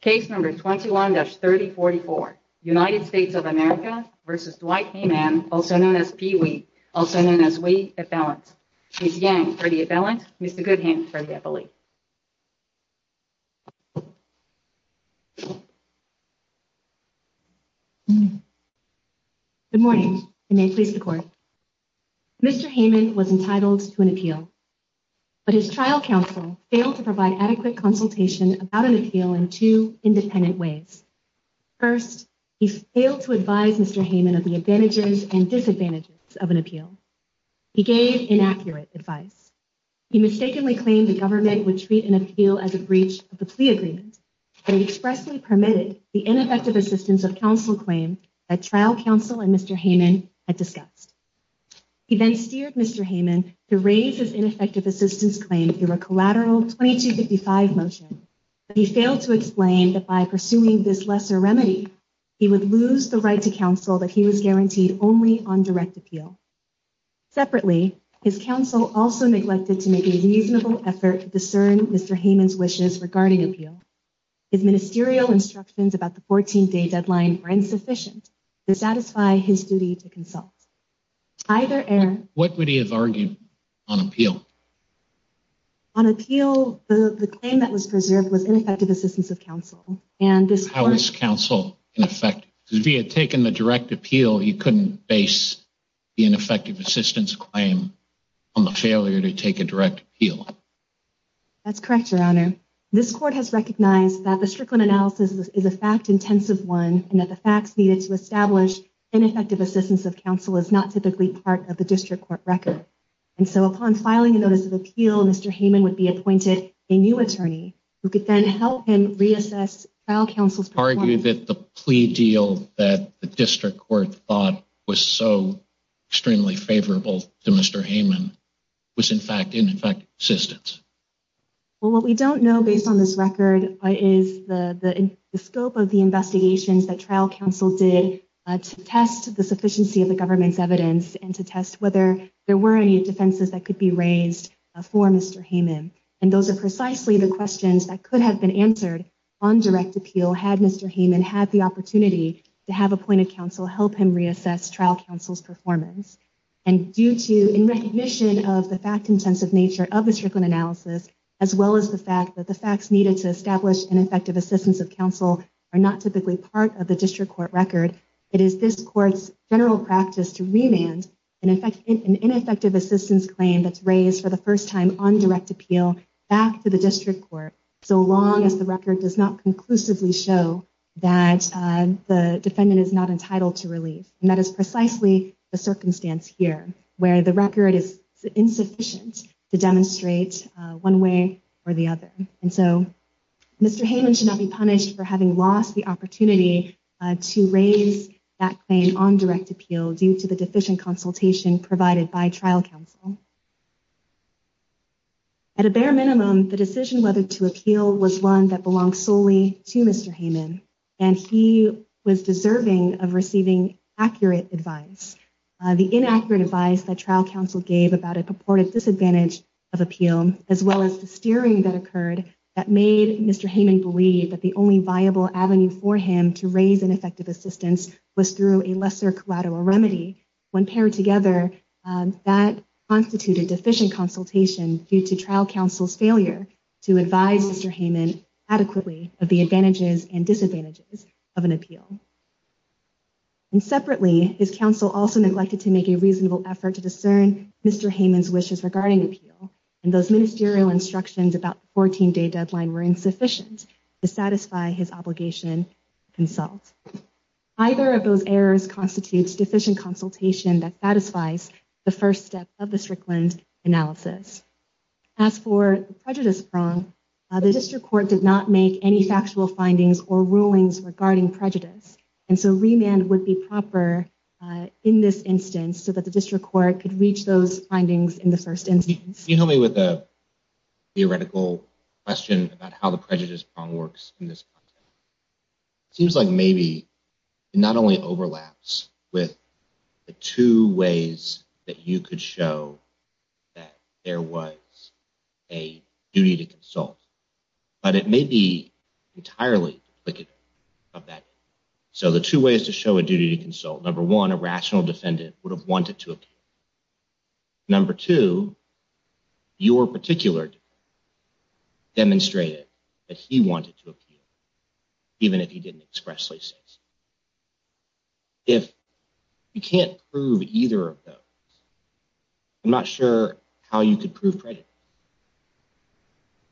Case No. 21-3044, United States of America v. Dwight Hayman, also known as Pee-Wee, also known as Wee, appellant. Ms. Yang for the appellant, Mr. Goodham for the appellate. Good morning, and may it please the Court. Mr. Hayman was entitled to an appeal, but his trial counsel failed to provide adequate consultation about an appeal in two independent ways. First, he failed to advise Mr. Hayman of the advantages and disadvantages of an appeal. He gave inaccurate advice. He mistakenly claimed the government would treat an appeal as a breach of the plea agreement, but he expressly permitted the ineffective assistance of counsel claim that trial counsel and Mr. Hayman had discussed. He then steered Mr. Hayman to raise his ineffective assistance claim through a collateral 2255 motion, but he failed to explain that by pursuing this lesser remedy, he would lose the right to counsel that he was guaranteed only on direct appeal. Separately, his counsel also neglected to make a reasonable effort to discern Mr. Hayman's wishes regarding appeal. His ministerial instructions about the 14-day deadline were insufficient to satisfy his duty to consult. Either error... What would he have argued on appeal? On appeal, the claim that was preserved was ineffective assistance of counsel, and this... How was counsel ineffective? Because if he had taken the direct appeal, he couldn't base the ineffective assistance claim on the failure to take a direct appeal. That's correct, Your Honor. This court has recognized that the Strickland analysis is a fact-intensive one and that the facts needed to establish ineffective assistance of counsel is not typically part of the district court record. And so upon filing a notice of appeal, Mr. Hayman would be appointed a new attorney who could then help him reassess trial counsel's... Would you argue that the plea deal that the district court thought was so extremely favorable to Mr. Hayman was, in fact, ineffective assistance? Well, what we don't know based on this record is the scope of the investigations that trial counsel did to test the sufficiency of the government's evidence and to test whether there were any defenses that could be raised for Mr. Hayman. And those are precisely the questions that could have been answered on direct appeal had Mr. Hayman had the opportunity to have appointed counsel help him reassess trial counsel's performance. And due to, in recognition of the fact-intensive nature of the Strickland analysis, as well as the fact that the facts needed to establish ineffective assistance of counsel are not typically part of the district court record, it is this court's general practice to remand an ineffective assistance claim that's raised for the first time on direct appeal back to the district court, so long as the record does not conclusively show that the defendant is not entitled to relief. And that is precisely the circumstance here, where the record is insufficient to demonstrate one way or the other. And so Mr. Hayman should not be punished for having lost the opportunity to raise that claim on direct appeal due to the deficient consultation provided by trial counsel. At a bare minimum, the decision whether to appeal was one that belonged solely to Mr. Hayman, and he was deserving of receiving accurate advice. The inaccurate advice that trial counsel gave about a purported disadvantage of appeal, as well as the steering that occurred, that made Mr. Hayman believe that the only viable avenue for him to raise ineffective assistance was through a lesser collateral remedy. When paired together, that constituted deficient consultation due to trial counsel's failure to advise Mr. Hayman adequately of the advantages and disadvantages of an appeal. And separately, his counsel also neglected to make a reasonable effort to discern Mr. Hayman's wishes regarding appeal, and those ministerial instructions about the 14-day deadline were insufficient to satisfy his obligation to consult. Either of those errors constitutes deficient consultation that satisfies the first step of the Strickland analysis. As for the prejudice prong, the district court did not make any factual findings or rulings regarding prejudice, and so remand would be proper in this instance so that the district court could reach those findings in the first instance. If you help me with a theoretical question about how the prejudice prong works in this context, it seems like maybe it not only overlaps with the two ways that you could show that there was a duty to consult, but it may be entirely duplicative of that. So the two ways to show a duty to consult, number one, a rational defendant would have wanted to appeal. Number two, your particular defendant demonstrated that he wanted to appeal, even if he didn't expressly say so. If you can't prove either of those, I'm not sure how you could prove prejudice.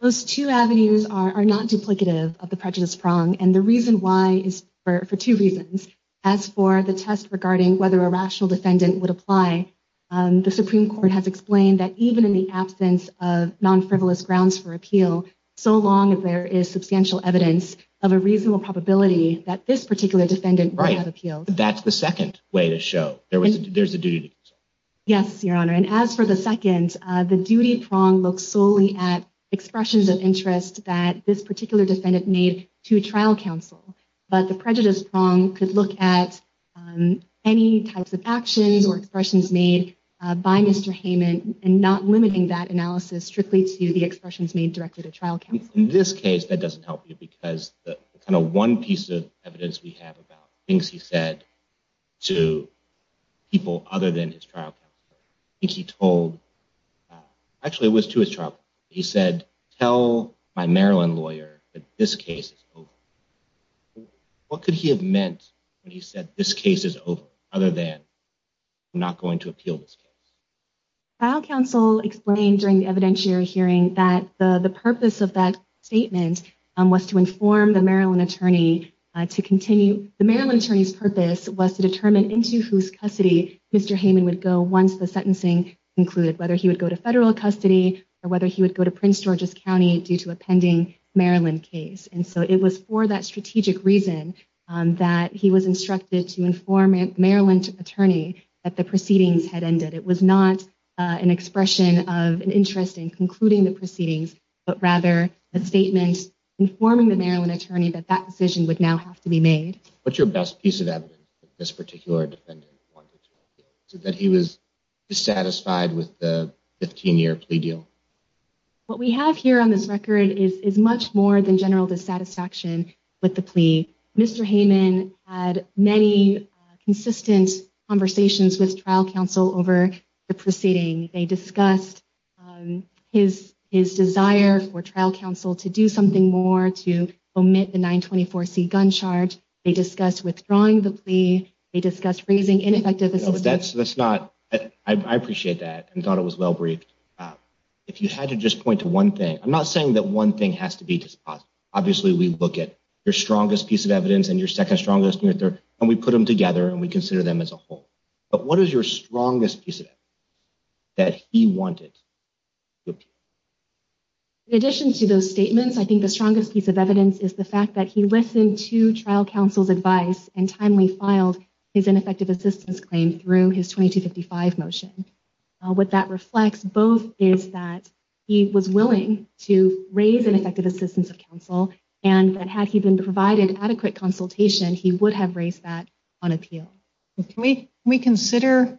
Those two avenues are not duplicative of the prejudice prong, and the reason why is for two reasons. As for the test regarding whether a rational defendant would apply, the Supreme Court has explained that even in the absence of non-frivolous grounds for appeal, so long as there is substantial evidence of a reasonable probability that this particular defendant would have appealed. Right. That's the second way to show there's a duty to consult. Yes, Your Honor, and as for the second, the duty prong looks solely at expressions of interest that this particular defendant made to trial counsel, but the prejudice prong could look at any types of actions or expressions made by Mr. Heyman, and not limiting that analysis strictly to the expressions made directly to trial counsel. In this case, that doesn't help you because the kind of one piece of evidence we have about things he said to people other than his trial counsel, I think he told, actually it was to his trial counsel, he said, tell my Maryland lawyer that this case is over. What could he have meant when he said this case is over, other than I'm not going to appeal this case? Trial counsel explained during the evidentiary hearing that the purpose of that statement was to inform the Maryland attorney to continue, the Maryland attorney's purpose was to determine into whose custody Mr. Heyman would go once the sentencing concluded, whether he would go to federal custody or whether he would go to Prince George's County due to a pending Maryland case. And so it was for that strategic reason that he was instructed to inform Maryland attorney that the proceedings had ended. It was not an expression of an interest in concluding the proceedings, but rather a statement informing the Maryland attorney that that decision would now have to be made. What's your best piece of evidence that this particular defendant wanted to appeal, that he was dissatisfied with the 15-year plea deal? What we have here on this record is much more than general dissatisfaction with the plea. Mr. Heyman had many consistent conversations with trial counsel over the proceeding. They discussed his desire for trial counsel to do something more to omit the 924C gun charge. They discussed withdrawing the plea. They discussed raising ineffective assistance. I appreciate that and thought it was well-briefed. If you had to just point to one thing, I'm not saying that one thing has to be dispositive. Obviously, we look at your strongest piece of evidence and your second strongest, and we put them together and we consider them as a whole. But what is your strongest piece of evidence that he wanted to appeal? In addition to those statements, I think the strongest piece of evidence is the fact that he listened to trial counsel's advice and timely filed his ineffective assistance claim through his 2255 motion. What that reflects both is that he was willing to raise ineffective assistance of counsel, and that had he been provided adequate consultation, he would have raised that on appeal. Can we consider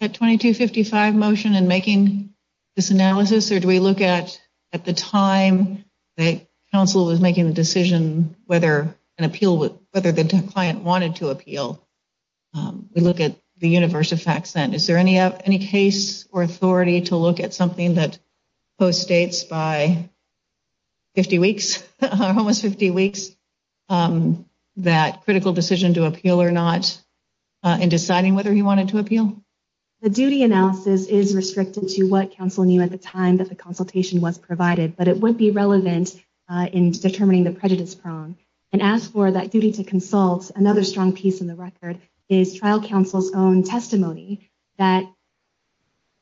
that 2255 motion in making this analysis, or do we look at the time that counsel was making the decision whether the client wanted to appeal? We look at the universe of facts then. Is there any case or authority to look at something that postdates by 50 weeks, almost 50 weeks, that critical decision to appeal or not in deciding whether he wanted to appeal? The duty analysis is restricted to what counsel knew at the time that the consultation was provided, but it would be relevant in determining the prejudice prong. And as for that duty to consult, another strong piece in the record is trial counsel's own testimony that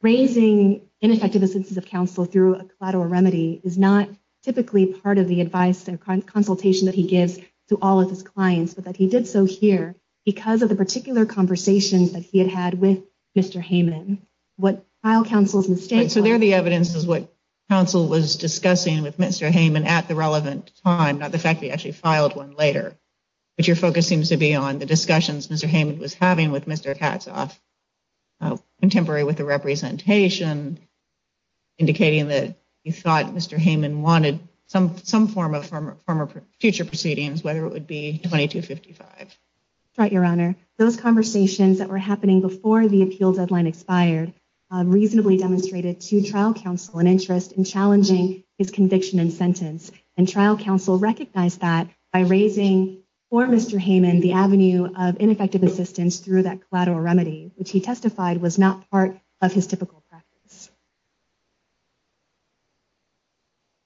raising ineffective assistance of counsel through a collateral remedy is not typically part of the advice and consultation that he gives to all of his clients, but that he did so here because of the particular conversations that he had had with Mr. Hayman. What trial counsel's mistake was. So there the evidence is what counsel was discussing with Mr. Hayman at the relevant time, not the fact that he actually filed one later. But your focus seems to be on the discussions Mr. Hayman was having with Mr. Katzoff, contemporary with the representation, indicating that you thought Mr. Hayman wanted some form of future proceedings, whether it would be 2255. That's right, Your Honor. Those conversations that were happening before the appeal deadline expired reasonably demonstrated to trial counsel an interest in challenging his conviction and sentence. And trial counsel recognized that by raising for Mr. Hayman the avenue of ineffective assistance through that collateral remedy, which he testified was not part of his typical practice.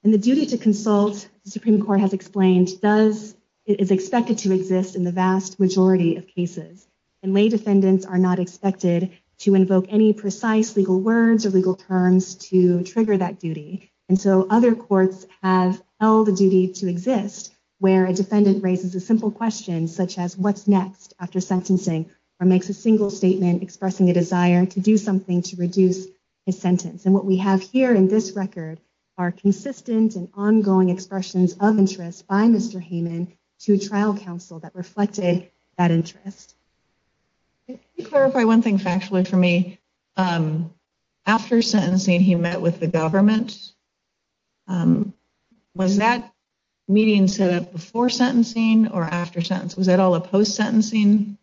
And the duty to consult, the Supreme Court has explained, is expected to exist in the vast majority of cases. And lay defendants are not expected to invoke any precise legal words or legal terms to trigger that duty. And so other courts have held the duty to exist where a defendant raises a simple question, such as what's next after sentencing, or makes a single statement expressing a desire to do something to reduce his sentence. And what we have here in this record are consistent and ongoing expressions of interest by Mr. Hayman to trial counsel that reflected that interest. Can you clarify one thing factually for me? After sentencing, he met with the government. Was that meeting set up before sentencing or after sentence? Was that all a post-sentencing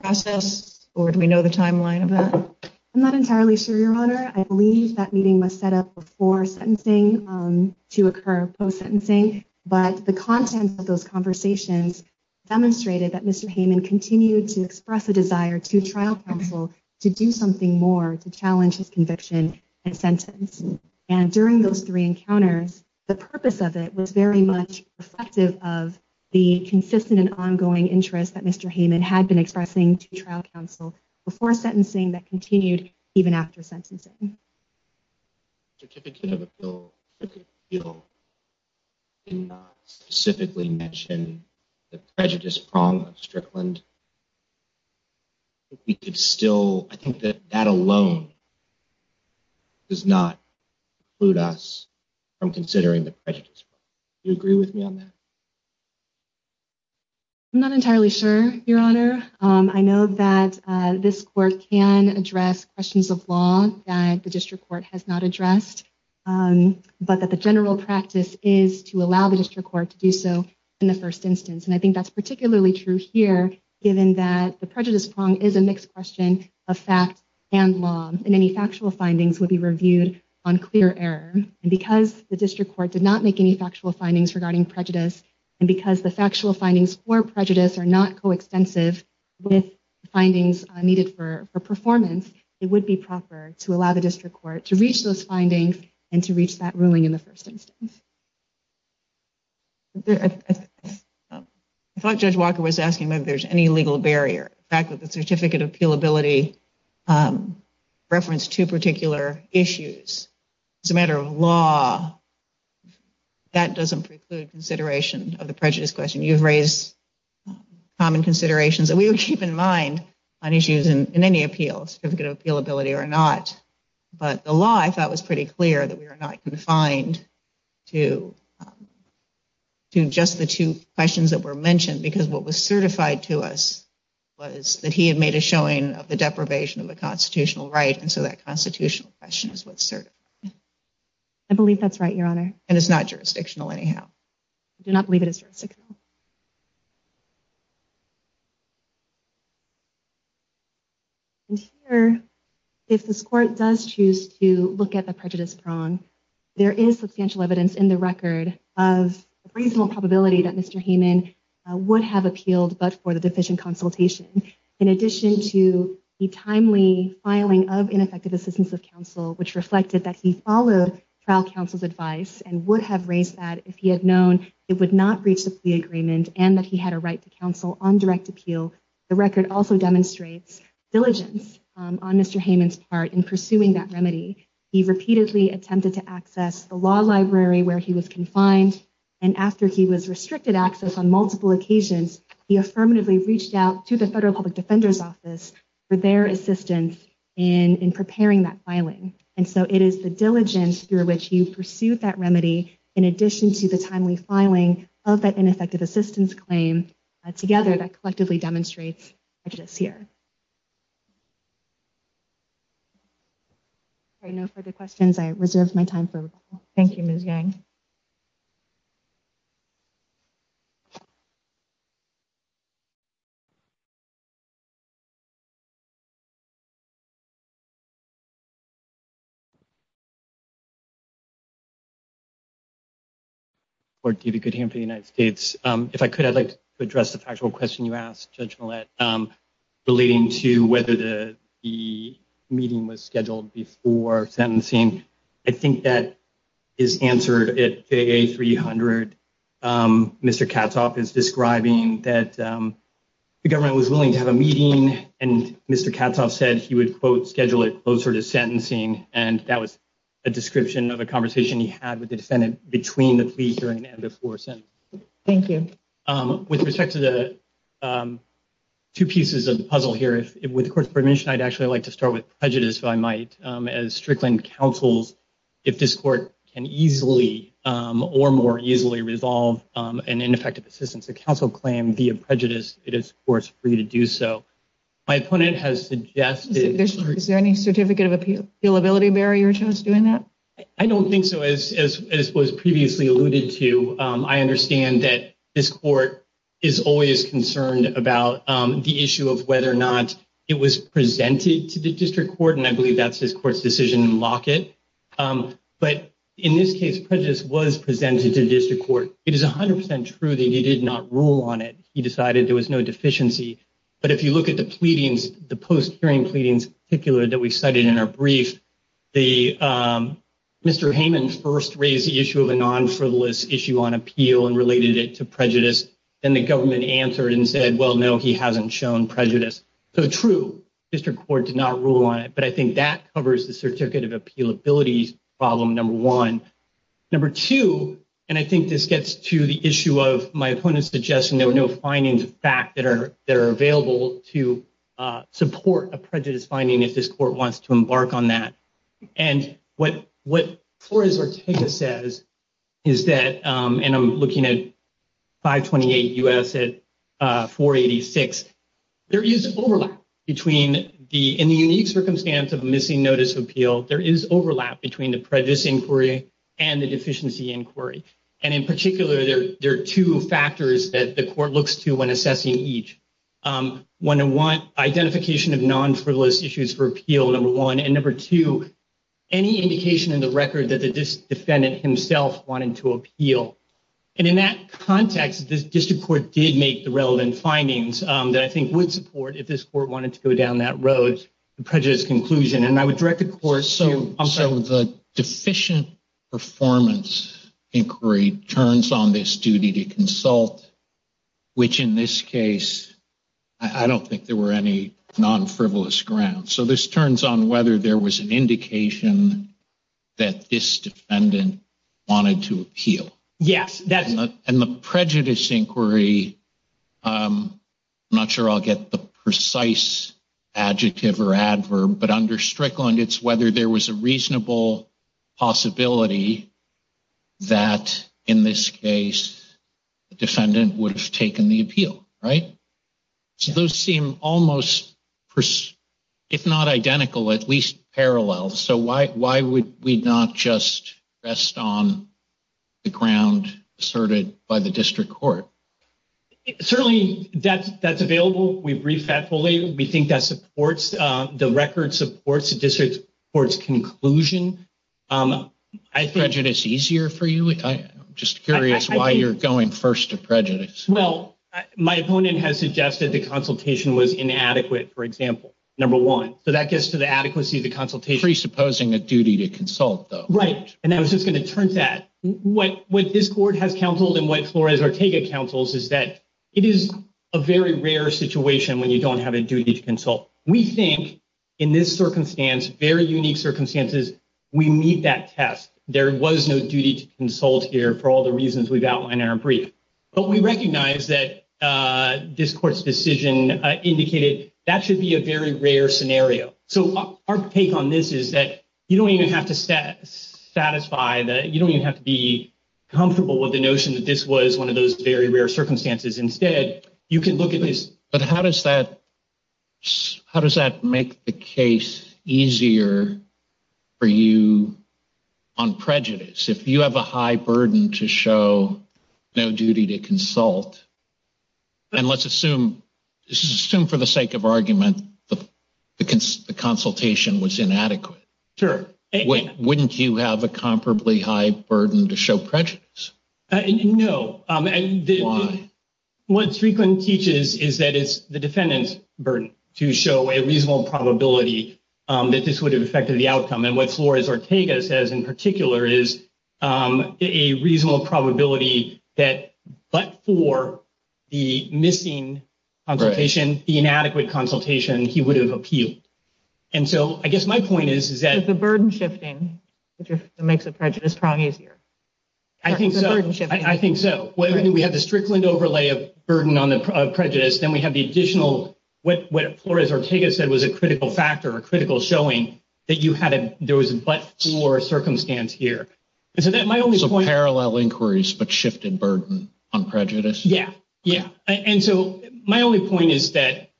process, or do we know the timeline of that? I'm not entirely sure, Your Honor. I believe that meeting was set up before sentencing to occur post-sentencing. But the content of those conversations demonstrated that Mr. Hayman continued to express a desire to trial counsel to do something more to challenge his conviction and sentence. And during those three encounters, the purpose of it was very much reflective of the consistent and ongoing interest that Mr. Hayman had been expressing to trial counsel before sentencing that continued even after sentencing. The certificate of appeal did not specifically mention the prejudice prong of Strickland. I think that that alone does not preclude us from considering the prejudice prong. Do you agree with me on that? I'm not entirely sure, Your Honor. I know that this court can address questions of law that the district court has not addressed, but that the general practice is to allow the district court to do so in the first instance. And I think that's particularly true here, given that the prejudice prong is a mixed question of fact and law, and any factual findings would be reviewed on clear error. And because the district court did not make any factual findings regarding prejudice, and because the factual findings for prejudice are not coextensive with findings needed for performance, it would be proper to allow the district court to reach those findings and to reach that ruling in the first instance. I thought Judge Walker was asking whether there's any legal barrier. The fact that the certificate of appealability referenced two particular issues. As a matter of law, that doesn't preclude consideration of the prejudice question. You've raised common considerations that we would keep in mind on issues in any appeal, certificate of appealability or not. But the law, I thought, was pretty clear that we were not confined to just the two questions that were mentioned. Because what was certified to us was that he had made a showing of the deprivation of a constitutional right, and so that constitutional question is what's certified. I believe that's right, Your Honor. And it's not jurisdictional anyhow. I do not believe it is jurisdictional. And here, if this court does choose to look at the prejudice prong, there is substantial evidence in the record of reasonable probability that Mr. Hayman would have appealed but for the deficient consultation. In addition to the timely filing of ineffective assistance of counsel, which reflected that he followed trial counsel's advice and would have raised that if he had known it would not reach the plea agreement and that he had a right to counsel on direct appeal. The record also demonstrates diligence on Mr. Hayman's part in pursuing that remedy. He repeatedly attempted to access the law library where he was confined. And after he was restricted access on multiple occasions, he affirmatively reached out to the Federal Public Defender's Office for their assistance in preparing that filing. And so it is the diligence through which he pursued that remedy in addition to the timely filing of that ineffective assistance claim together that collectively demonstrates prejudice here. All right, no further questions. I reserve my time for recall. Thank you, Ms. Yang. Thank you. Court, David Goodham for the United States. If I could, I'd like to address the factual question you asked, Judge Millett, relating to whether the meeting was scheduled before sentencing. I think that is answered at FAA 300. Mr. Katzhoff is describing that the government was willing to have a meeting, and Mr. Katzhoff said he would, quote, schedule it closer to sentencing. And that was a description of a conversation he had with the defendant between the plea hearing and before sentencing. Thank you. With respect to the two pieces of the puzzle here, with the Court's permission, I'd actually like to start with prejudice, if I might. As Strickland counsels, if this Court can easily or more easily resolve an ineffective assistance to counsel claim via prejudice, it is, of course, free to do so. My opponent has suggested… Is there any certificate of appealability barrier to us doing that? I don't think so. As was previously alluded to, I understand that this Court is always concerned about the issue of whether or not it was presented to the district court, and I believe that's this Court's decision in Lockett. But in this case, prejudice was presented to the district court. It is 100% true that he did not rule on it. He decided there was no deficiency. But if you look at the pleadings, the post-hearing pleadings in particular that we cited in our brief, Mr. Hayman first raised the issue of a non-frivolous issue on appeal and related it to prejudice. Then the government answered and said, well, no, he hasn't shown prejudice. So true, district court did not rule on it. But I think that covers the certificate of appealability problem, number one. Number two, and I think this gets to the issue of my opponent's suggestion, there were no findings of fact that are available to support a prejudice finding if this Court wants to embark on that. And what Flores-Ortega says is that, and I'm looking at 528 U.S. at 486, there is overlap between, in the unique circumstance of missing notice of appeal, there is overlap between the prejudice inquiry and the deficiency inquiry. And in particular, there are two factors that the Court looks to when assessing each. One, identification of non-frivolous issues for appeal, number one. And number two, any indication in the record that the defendant himself wanted to appeal. And in that context, this district court did make the relevant findings that I think would support, if this Court wanted to go down that road, the prejudice conclusion. And I would direct the Court to- So the deficient performance inquiry turns on this duty to consult, which in this case, I don't think there were any non-frivolous grounds. So this turns on whether there was an indication that this defendant wanted to appeal. Yes. And the prejudice inquiry, I'm not sure I'll get the precise adjective or adverb, but under Strickland, it's whether there was a reasonable possibility that, in this case, the defendant would have taken the appeal, right? So those seem almost, if not identical, at least parallel. So why would we not just rest on the ground asserted by the district court? Certainly, that's available. We've briefed that fully. We think the record supports the district court's conclusion. Is prejudice easier for you? I'm just curious why you're going first to prejudice. Well, my opponent has suggested the consultation was inadequate, for example, number one. So that gets to the adequacy of the consultation. Presupposing a duty to consult, though. Right. And I was just going to turn to that. What this Court has counseled and what Flores-Ortega counsels is that it is a very rare situation when you don't have a duty to consult. We think in this circumstance, very unique circumstances, we meet that test. There was no duty to consult here for all the reasons we've outlined in our brief. But we recognize that this Court's decision indicated that should be a very rare scenario. So our take on this is that you don't even have to satisfy, you don't even have to be comfortable with the notion that this was one of those very rare circumstances. Instead, you can look at this. But how does that make the case easier for you on prejudice? If you have a high burden to show no duty to consult, and let's assume for the sake of argument the consultation was inadequate. Sure. Wouldn't you have a comparably high burden to show prejudice? No. Why? What Striegeland teaches is that it's the defendant's burden to show a reasonable probability that this would have affected the outcome. And what Flores-Ortega says in particular is a reasonable probability that but for the missing consultation, the inadequate consultation, he would have appealed. And so I guess my point is, is that— Is the burden shifting, which makes the prejudice prong easier? I think so. I think so. We have the Striegeland overlay of burden on the prejudice, then we have the additional—what Flores-Ortega said was a critical factor, a critical showing that you had a—there was a but for circumstance here. So parallel inquiries but shifted burden on prejudice? Yeah. Yeah. And so my only point is that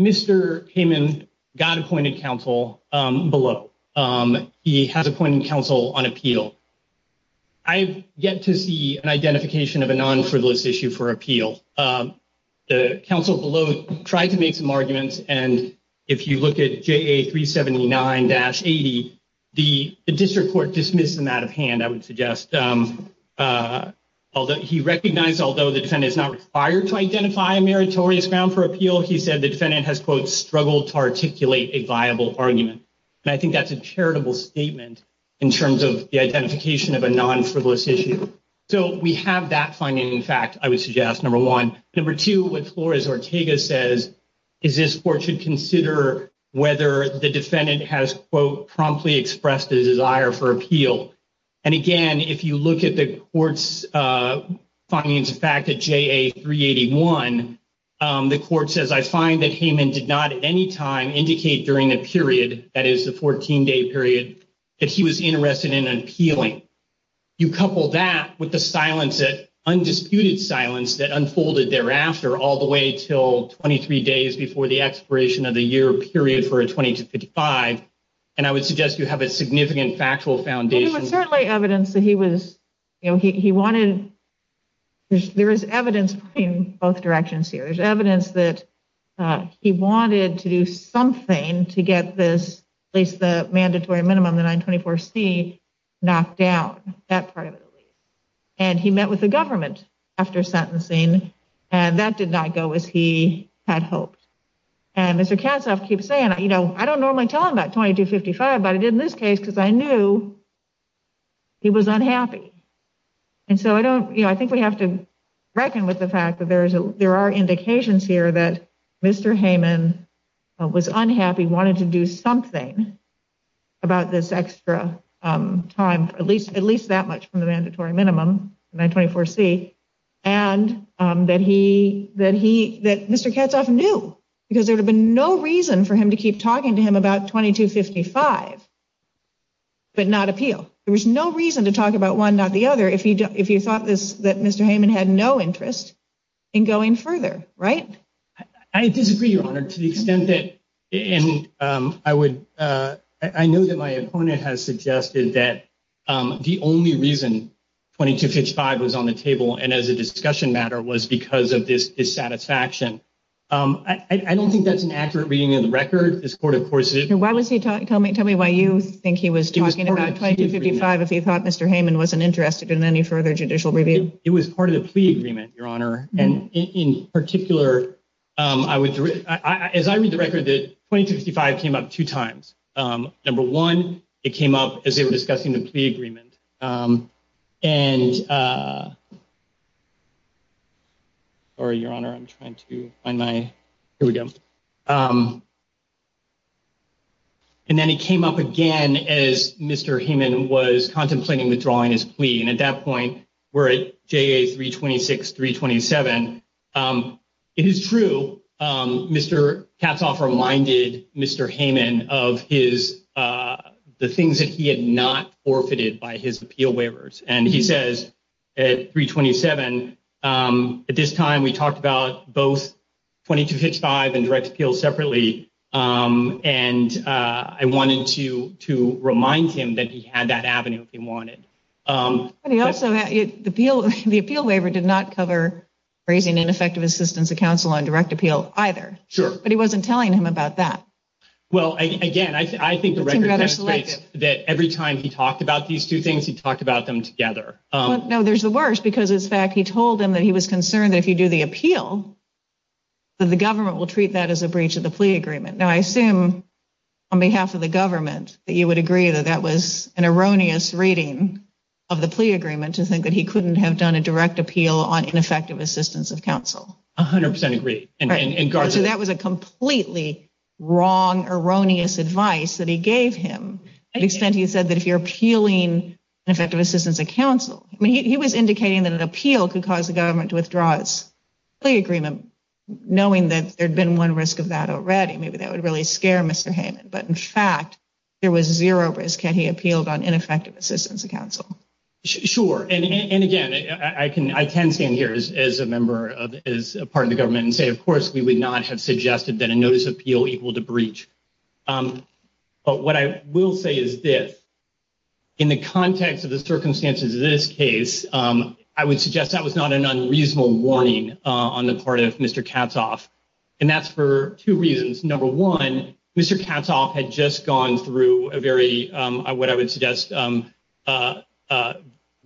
Mr. Heyman got appointed counsel below. He has appointed counsel on appeal. I have yet to see an identification of a non-frivolous issue for appeal. The counsel below tried to make some arguments, and if you look at JA 379-80, the district court dismissed them out of hand, I would suggest. He recognized, although the defendant is not required to identify a meritorious ground for appeal, he said the defendant has, quote, struggled to articulate a viable argument. And I think that's a charitable statement in terms of the identification of a non-frivolous issue. So we have that finding, in fact, I would suggest, number one. Number two, what Flores-Ortega says is this court should consider whether the defendant has, quote, promptly expressed a desire for appeal. And, again, if you look at the court's findings, in fact, at JA 381, the court says, I find that Heyman did not at any time indicate during the period, that is, the 14-day period, that he was interested in appealing. You couple that with the silence, the undisputed silence that unfolded thereafter all the way until 23 days before the expiration of the year period for a 2255, and I would suggest you have a significant factual foundation. It was certainly evidence that he was, you know, he wanted, there is evidence in both directions here. There's evidence that he wanted to do something to get this, at least the mandatory minimum, the 924C, knocked down, that part of it at least. And he met with the government after sentencing, and that did not go as he had hoped. And Mr. Katzoff keeps saying, you know, I don't normally tell him about 2255, but I did in this case because I knew he was unhappy. And so I don't, you know, I think we have to reckon with the fact that there are indications here that Mr. Heyman was unhappy, wanted to do something about this extra time, at least that much from the mandatory minimum, 924C, and that he, that he, that Mr. Katzoff knew, because there would have been no reason for him to keep talking to him about 2255, but not appeal. There was no reason to talk about one, not the other, if you thought this, that Mr. Heyman had no interest in going further, right? I disagree, Your Honor, to the extent that, and I would, I know that my opponent has suggested that the only reason 2255 was on the table and as a discussion matter was because of this dissatisfaction. I don't think that's an accurate reading of the record. This court, of course. Why was he talking, tell me, tell me why you think he was talking about 2255 if he thought Mr. Heyman wasn't interested in any further judicial review? It was part of the plea agreement, Your Honor, and in particular, I would, as I read the record, that 2255 came up two times. Number one, it came up as they were discussing the plea agreement, and, sorry, Your Honor, I'm trying to find my, here we go. And then it came up again as Mr. Heyman was contemplating withdrawing his plea, and at that point, we're at JA 326, 327. It is true, Mr. Katzhoff reminded Mr. Heyman of his, the things that he had not forfeited by his appeal waivers, and he says at 327, at this time, we talked about both 2255 and direct appeal separately, and I wanted to remind him that he had that avenue if he wanted. But he also, the appeal waiver did not cover raising ineffective assistance of counsel on direct appeal either. Sure. But he wasn't telling him about that. Well, again, I think the record demonstrates that every time he talked about these two things, he talked about them together. No, there's the worst, because, in fact, he told him that he was concerned that if you do the appeal, that the government will treat that as a breach of the plea agreement. Now, I assume, on behalf of the government, that you would agree that that was an erroneous reading of the plea agreement to think that he couldn't have done a direct appeal on ineffective assistance of counsel. 100% agree. So that was a completely wrong, erroneous advice that he gave him. To the extent he said that if you're appealing ineffective assistance of counsel, I mean, he was indicating that an appeal could cause the government to withdraw its plea agreement, knowing that there had been one risk of that already. Maybe that would really scare Mr. Heyman. But, in fact, there was zero risk had he appealed on ineffective assistance of counsel. Sure. And, again, I can stand here as a member, as a part of the government, and say, of course, we would not have suggested that a notice of appeal equaled a breach. But what I will say is this. In the context of the circumstances of this case, I would suggest that was not an unreasonable warning on the part of Mr. Katzhoff. And that's for two reasons. Number one, Mr. Katzhoff had just gone through a very, what I would suggest,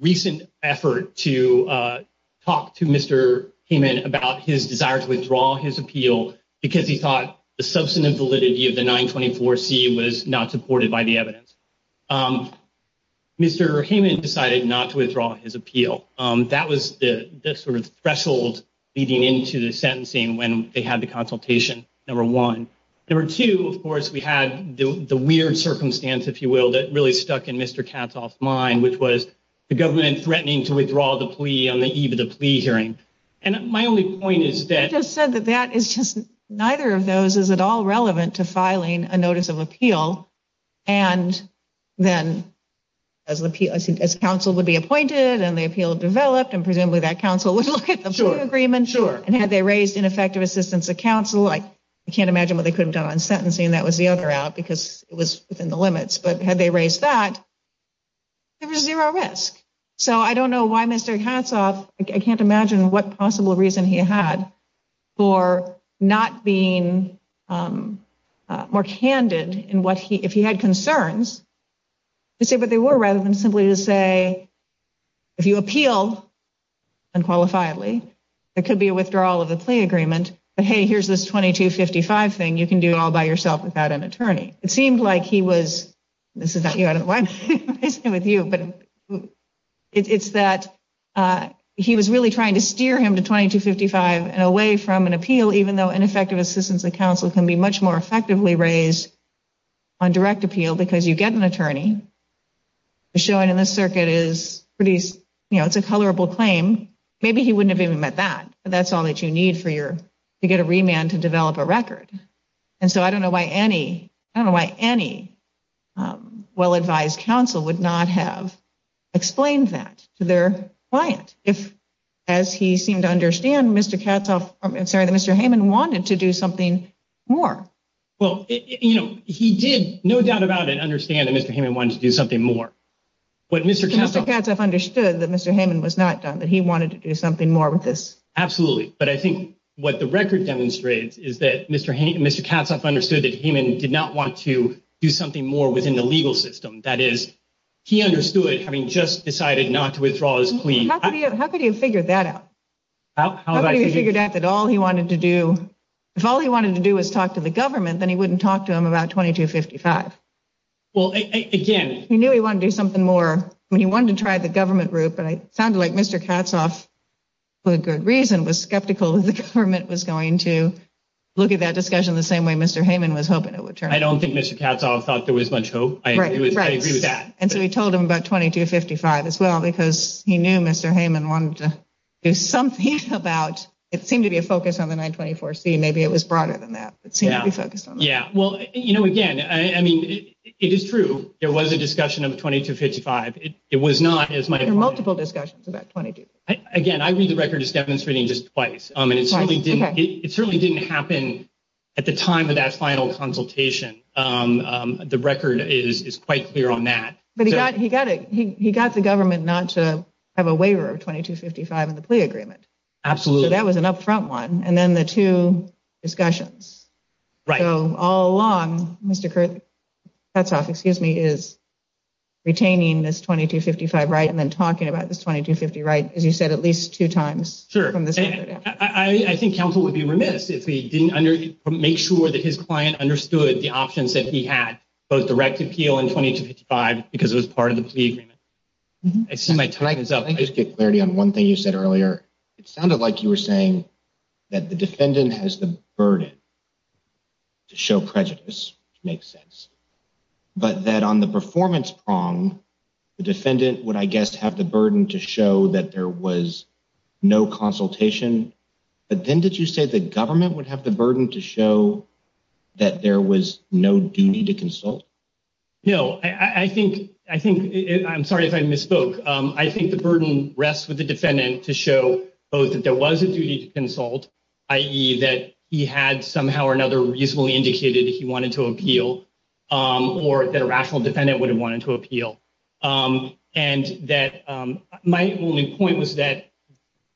recent effort to talk to Mr. Heyman about his desire to withdraw his appeal because he thought the substantive validity of the 924C was not supported by the evidence. Mr. Heyman decided not to withdraw his appeal. That was the sort of threshold leading into the sentencing when they had the consultation, number one. Number two, of course, we had the weird circumstance, if you will, that really stuck in Mr. Katzhoff's mind, which was the government threatening to withdraw the plea on the eve of the plea hearing. And my only point is that... You just said that that is just, neither of those is at all relevant to filing a notice of appeal. And then, as counsel would be appointed and the appeal developed, and presumably that counsel would look at the plea agreement. And had they raised ineffective assistance of counsel, I can't imagine what they could have done on sentencing, and that was the other out, because it was within the limits. But had they raised that, there was zero risk. So I don't know why Mr. Katzhoff, I can't imagine what possible reason he had for not being more candid in what he, if he had concerns, to say what they were rather than simply to say, if you appeal unqualifiedly, there could be a withdrawal of the plea agreement. But hey, here's this 2255 thing you can do all by yourself without an attorney. It seemed like he was, this is not you, I don't know why I'm facing with you, but it's that he was really trying to steer him to 2255 and away from an appeal, even though ineffective assistance of counsel can be much more effectively raised on direct appeal, because you get an attorney. Showing in this circuit is pretty, you know, it's a colorable claim. Maybe he wouldn't have even met that, but that's all that you need for your to get a remand to develop a record. And so I don't know why any, I don't know why any well-advised counsel would not have explained that to their client if, as he seemed to understand Mr. Katzhoff, I'm sorry, that Mr. Heyman wanted to do something more. Well, you know, he did no doubt about it, understand that Mr. Heyman wanted to do something more. But Mr. Katzhoff understood that Mr. Heyman was not done, that he wanted to do something more with this. Absolutely. But I think what the record demonstrates is that Mr. Heyman, Mr. Katzhoff understood that Heyman did not want to do something more within the legal system. That is, he understood having just decided not to withdraw his plea. How could he have figured that out? How could he have figured out that all he wanted to do, if all he wanted to do was talk to the government, then he wouldn't talk to him about 2255. Well, again, he knew he wanted to do something more when he wanted to try the government route. But it sounded like Mr. Katzhoff, for good reason, was skeptical that the government was going to look at that discussion the same way Mr. Heyman was hoping it would turn out. I don't think Mr. Katzhoff thought there was much hope. I agree with that. And so he told him about 2255 as well, because he knew Mr. Heyman wanted to do something about it. It seemed to be a focus on the 924C. Maybe it was broader than that, but it seemed to be focused on that. Yeah. Well, you know, again, I mean, it is true. There was a discussion of 2255. It was not as much. There were multiple discussions about 2255. Again, I read the record as demonstrating just twice. It certainly didn't happen at the time of that final consultation. The record is quite clear on that. But he got he got it. He got the government not to have a waiver of 2255 in the plea agreement. Absolutely. That was an upfront one. And then the two discussions. So all along, Mr. Katzhoff is retaining this 2255 right and then talking about this 2250 right, as you said, at least two times. Sure. I think counsel would be remiss if he didn't make sure that his client understood the options that he had, both direct appeal and 2255, because it was part of the plea agreement. I see my time is up. I just get clarity on one thing you said earlier. It sounded like you were saying that the defendant has the burden to show prejudice. Makes sense. But that on the performance prong, the defendant would, I guess, have the burden to show that there was no consultation. But then did you say the government would have the burden to show that there was no duty to consult? No, I think I think I'm sorry if I misspoke. I think the burden rests with the defendant to show both that there was a duty to consult, i.e. that he had somehow or another reasonably indicated that he wanted to appeal or that a rational defendant would have wanted to appeal. And that my only point was that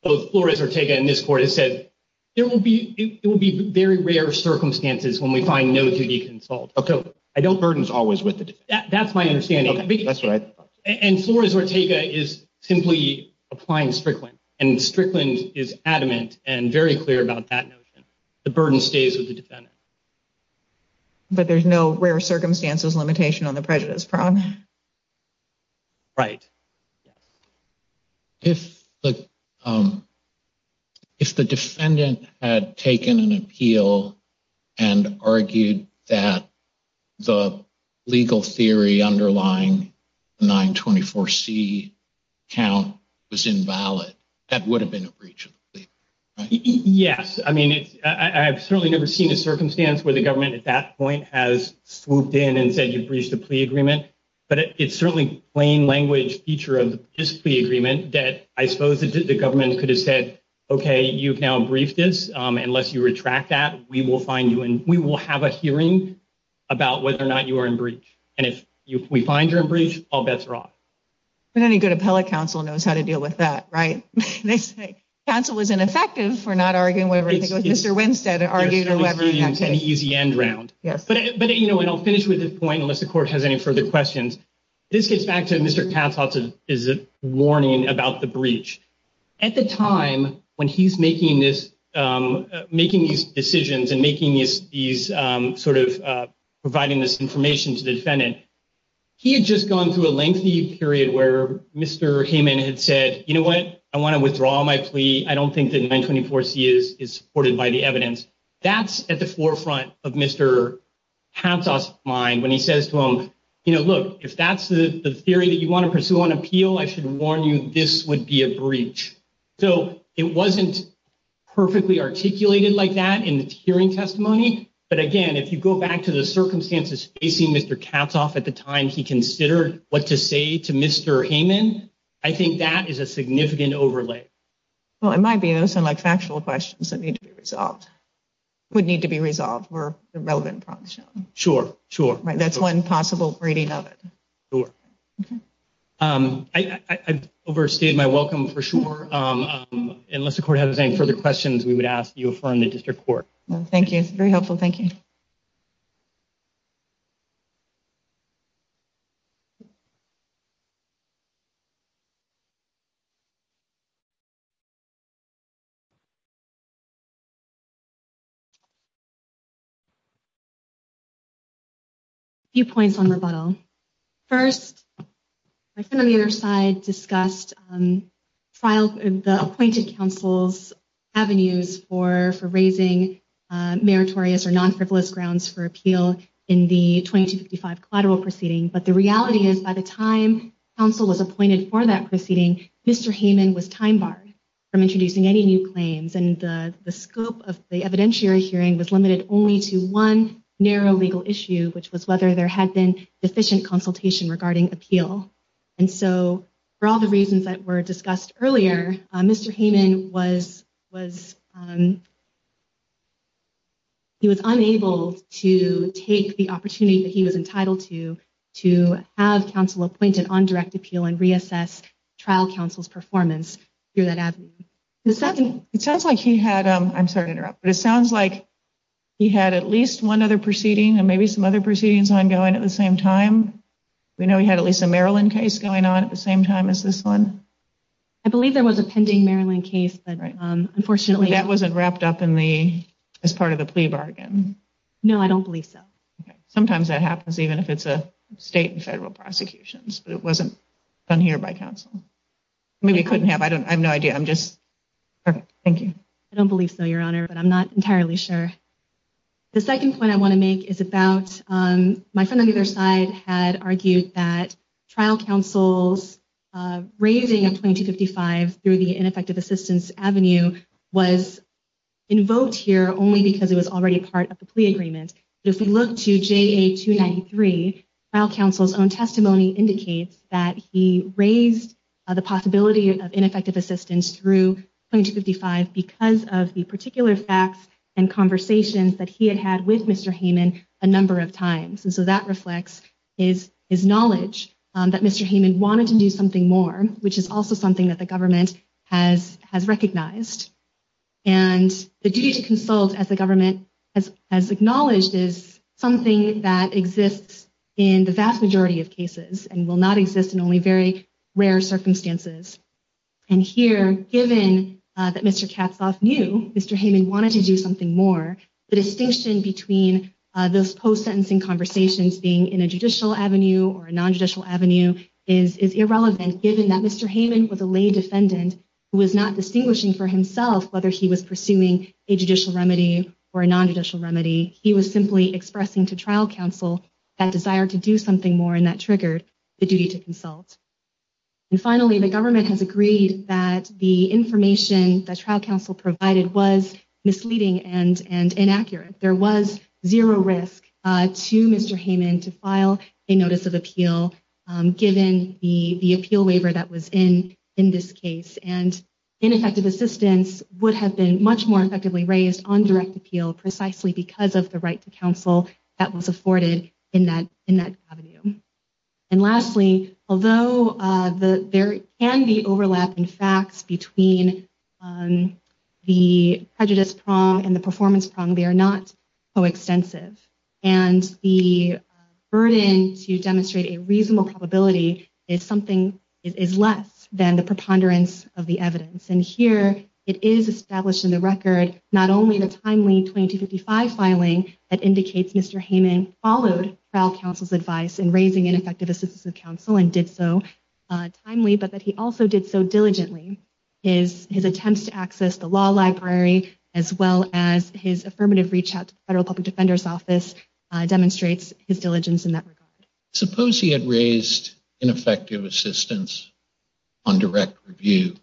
both Flores Ortega and this court has said there will be it will be very rare circumstances when we find no duty consult. OK, I don't burdens always with that. That's my understanding. That's right. And Flores Ortega is simply applying Strickland and Strickland is adamant and very clear about that notion. The burden stays with the defendant. But there's no rare circumstances limitation on the prejudice prong. Right. If the. If the defendant had taken an appeal and argued that the legal theory underlying 924 C count was invalid, that would have been a breach. Yes. I mean, I've certainly never seen a circumstance where the government at that point has swooped in and said you breached the plea agreement. But it's certainly plain language feature of the agreement that I suppose the government could have said, OK, you've now briefed this. Unless you retract that, we will find you and we will have a hearing about whether or not you are in breach. And if we find you're in breach, all bets are off. But any good appellate counsel knows how to deal with that. Right. They say counsel is ineffective for not arguing with Mr. Winstead. Argue whoever has an easy end round. Yes. But. But, you know, and I'll finish with this point, unless the court has any further questions. This gets back to Mr. Katz is a warning about the breach at the time when he's making this, making these decisions and making these these sort of providing this information to the defendant. He had just gone through a lengthy period where Mr. Heyman had said, you know what, I want to withdraw my plea. I don't think that 924 C is supported by the evidence. That's at the forefront of Mr. Mind when he says to him, you know, look, if that's the theory that you want to pursue on appeal, I should warn you this would be a breach. So it wasn't perfectly articulated like that in the hearing testimony. But again, if you go back to the circumstances facing Mr. Katz off at the time, he considered what to say to Mr. Heyman. I think that is a significant overlay. Well, it might be those are like factual questions that need to be resolved. Would need to be resolved were relevant. Sure. Sure. Right. That's one possible reading of it. I overstayed my welcome for sure. Unless the court has any further questions, we would ask you from the district court. Thank you. Very helpful. Thank you. A few points on rebuttal. First, my friend on the other side discussed the appointed counsel's avenues for raising meritorious or non-frivolous grounds for appeal in the 2255 collateral proceeding. At the time, counsel was appointed for that proceeding. Mr. Heyman was time barred from introducing any new claims and the scope of the evidentiary hearing was limited only to one narrow legal issue, which was whether there had been efficient consultation regarding appeal. And so for all the reasons that were discussed earlier, Mr. Heyman was he was unable to take the opportunity that he was entitled to, to have counsel appointed on direct appeal and reassess trial counsel's performance through that avenue. It sounds like he had, I'm sorry to interrupt, but it sounds like he had at least one other proceeding and maybe some other proceedings ongoing at the same time. We know he had at least a Maryland case going on at the same time as this one. I believe there was a pending Maryland case. Unfortunately, that wasn't wrapped up in the as part of the plea bargain. No, I don't believe so. Sometimes that happens, even if it's a state and federal prosecutions, but it wasn't done here by counsel. Maybe it couldn't have. I don't, I have no idea. I'm just. Thank you. I don't believe so, Your Honor, but I'm not entirely sure. The second point I want to make is about my friend on either side had argued that trial counsel's raising of 2255 through the ineffective assistance avenue was invoked here only because it was already part of the plea agreement. But if we look to JA 293, trial counsel's own testimony indicates that he raised the possibility of ineffective assistance through 2255 because of the particular facts and conversations that he had had with Mr. Hayman a number of times. And so that reflects his knowledge that Mr. Hayman wanted to do something more, which is also something that the government has recognized. And the duty to consult as the government has acknowledged is something that exists in the vast majority of cases and will not exist in only very rare circumstances. And here, given that Mr. Katzoff knew Mr. Hayman wanted to do something more, the distinction between those post-sentencing conversations being in a judicial avenue or a non-judicial avenue is irrelevant given that Mr. Hayman was a lay defendant who was not distinguishing for himself whether he was pursuing a judicial remedy or a non-judicial remedy. He was simply expressing to trial counsel that desire to do something more, and that triggered the duty to consult. And finally, the government has agreed that the information that trial counsel provided was misleading and inaccurate. There was zero risk to Mr. Hayman to file a notice of appeal given the appeal waiver that was in this case. And ineffective assistance would have been much more effectively raised on direct appeal precisely because of the right to counsel that was afforded in that avenue. And lastly, although there can be overlap in facts between the prejudice prong and the performance prong, they are not coextensive. And the burden to demonstrate a reasonable probability is something that is less than the preponderance of the evidence. And here it is established in the record not only the timely 2255 filing that indicates Mr. Hayman followed trial counsel's advice in raising ineffective assistance of counsel and did so timely, but that he also did so diligently. His attempts to access the law library as well as his affirmative reach out to the Federal Public Defender's Office demonstrates his diligence in that regard. Suppose he had raised ineffective assistance on direct review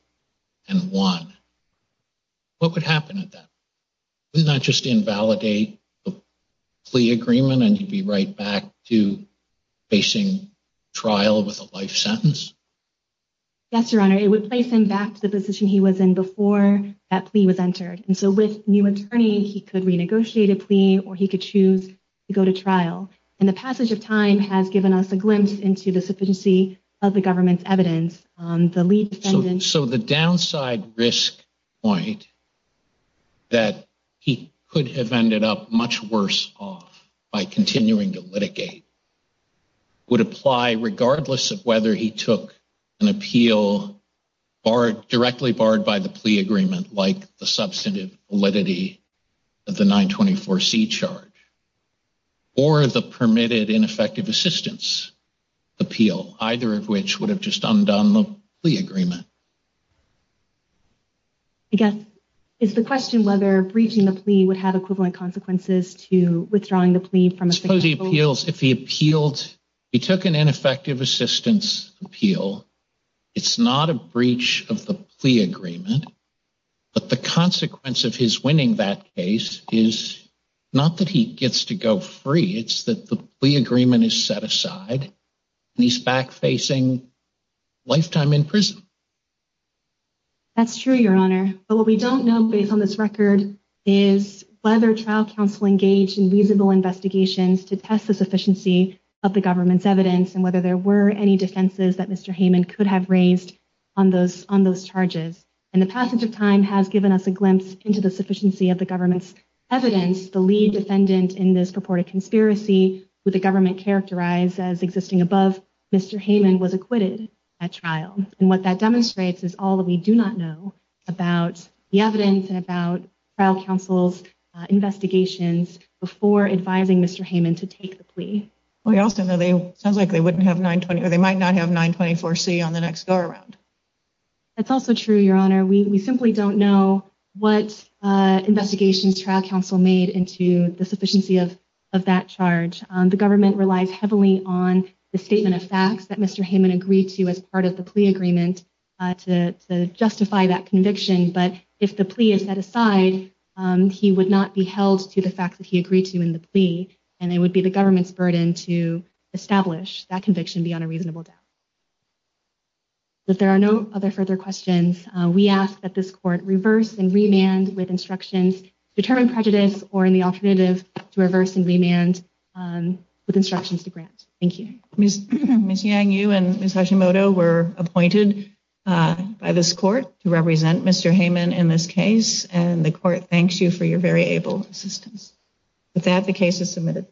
and won. What would happen at that point? Would it not just invalidate the plea agreement and he'd be right back to facing trial with a life sentence? Yes, Your Honor. It would place him back to the position he was in before that plea was entered. And so with new attorney he could renegotiate a plea or he could choose to go to trial. And the passage of time has given us a glimpse into the sufficiency of the government's evidence on the lead defendant. So the downside risk point that he could have ended up much worse off by continuing to litigate would apply regardless of whether he took an appeal directly barred by the plea agreement like the substantive validity of the 924C charge or the permitted ineffective assistance appeal, either of which would have just undone the plea agreement. I guess, is the question whether breaching the plea would have equivalent consequences to withdrawing the plea from a second appeal? Suppose he appeals, if he appealed, he took an ineffective assistance appeal, it's not a breach of the plea agreement, but the consequence of his winning that case is not that he gets to go free, it's that the plea agreement is set aside and he's back facing lifetime in prison. That's true, Your Honor. But what we don't know based on this record is whether trial counsel engaged in reasonable investigations to test the sufficiency of the government's evidence and whether there were any defenses that Mr. Hayman could have raised on those charges. And the passage of time has given us a glimpse into the sufficiency of the government's evidence. The lead defendant in this purported conspiracy, who the government characterized as existing above Mr. Hayman, was acquitted at trial. And what that demonstrates is all that we do not know about the evidence and about trial counsel's investigations before advising Mr. Hayman to take the plea. Well, it also sounds like they might not have 924C on the next go-around. That's also true, Your Honor. We simply don't know what investigations trial counsel made into the sufficiency of that charge. The government relies heavily on the statement of facts that Mr. Hayman agreed to as part of the plea agreement to justify that conviction. But if the plea is set aside, he would not be held to the facts that he agreed to in the plea, and it would be the government's burden to establish that conviction beyond a reasonable doubt. If there are no other further questions, we ask that this court reverse and remand with instructions to determine prejudice or in the alternative, to reverse and remand with instructions to grant. Thank you. Ms. Yang, you and Ms. Hashimoto were appointed by this court to represent Mr. Hayman in this case, and the court thanks you for your very able assistance. With that, the case is submitted.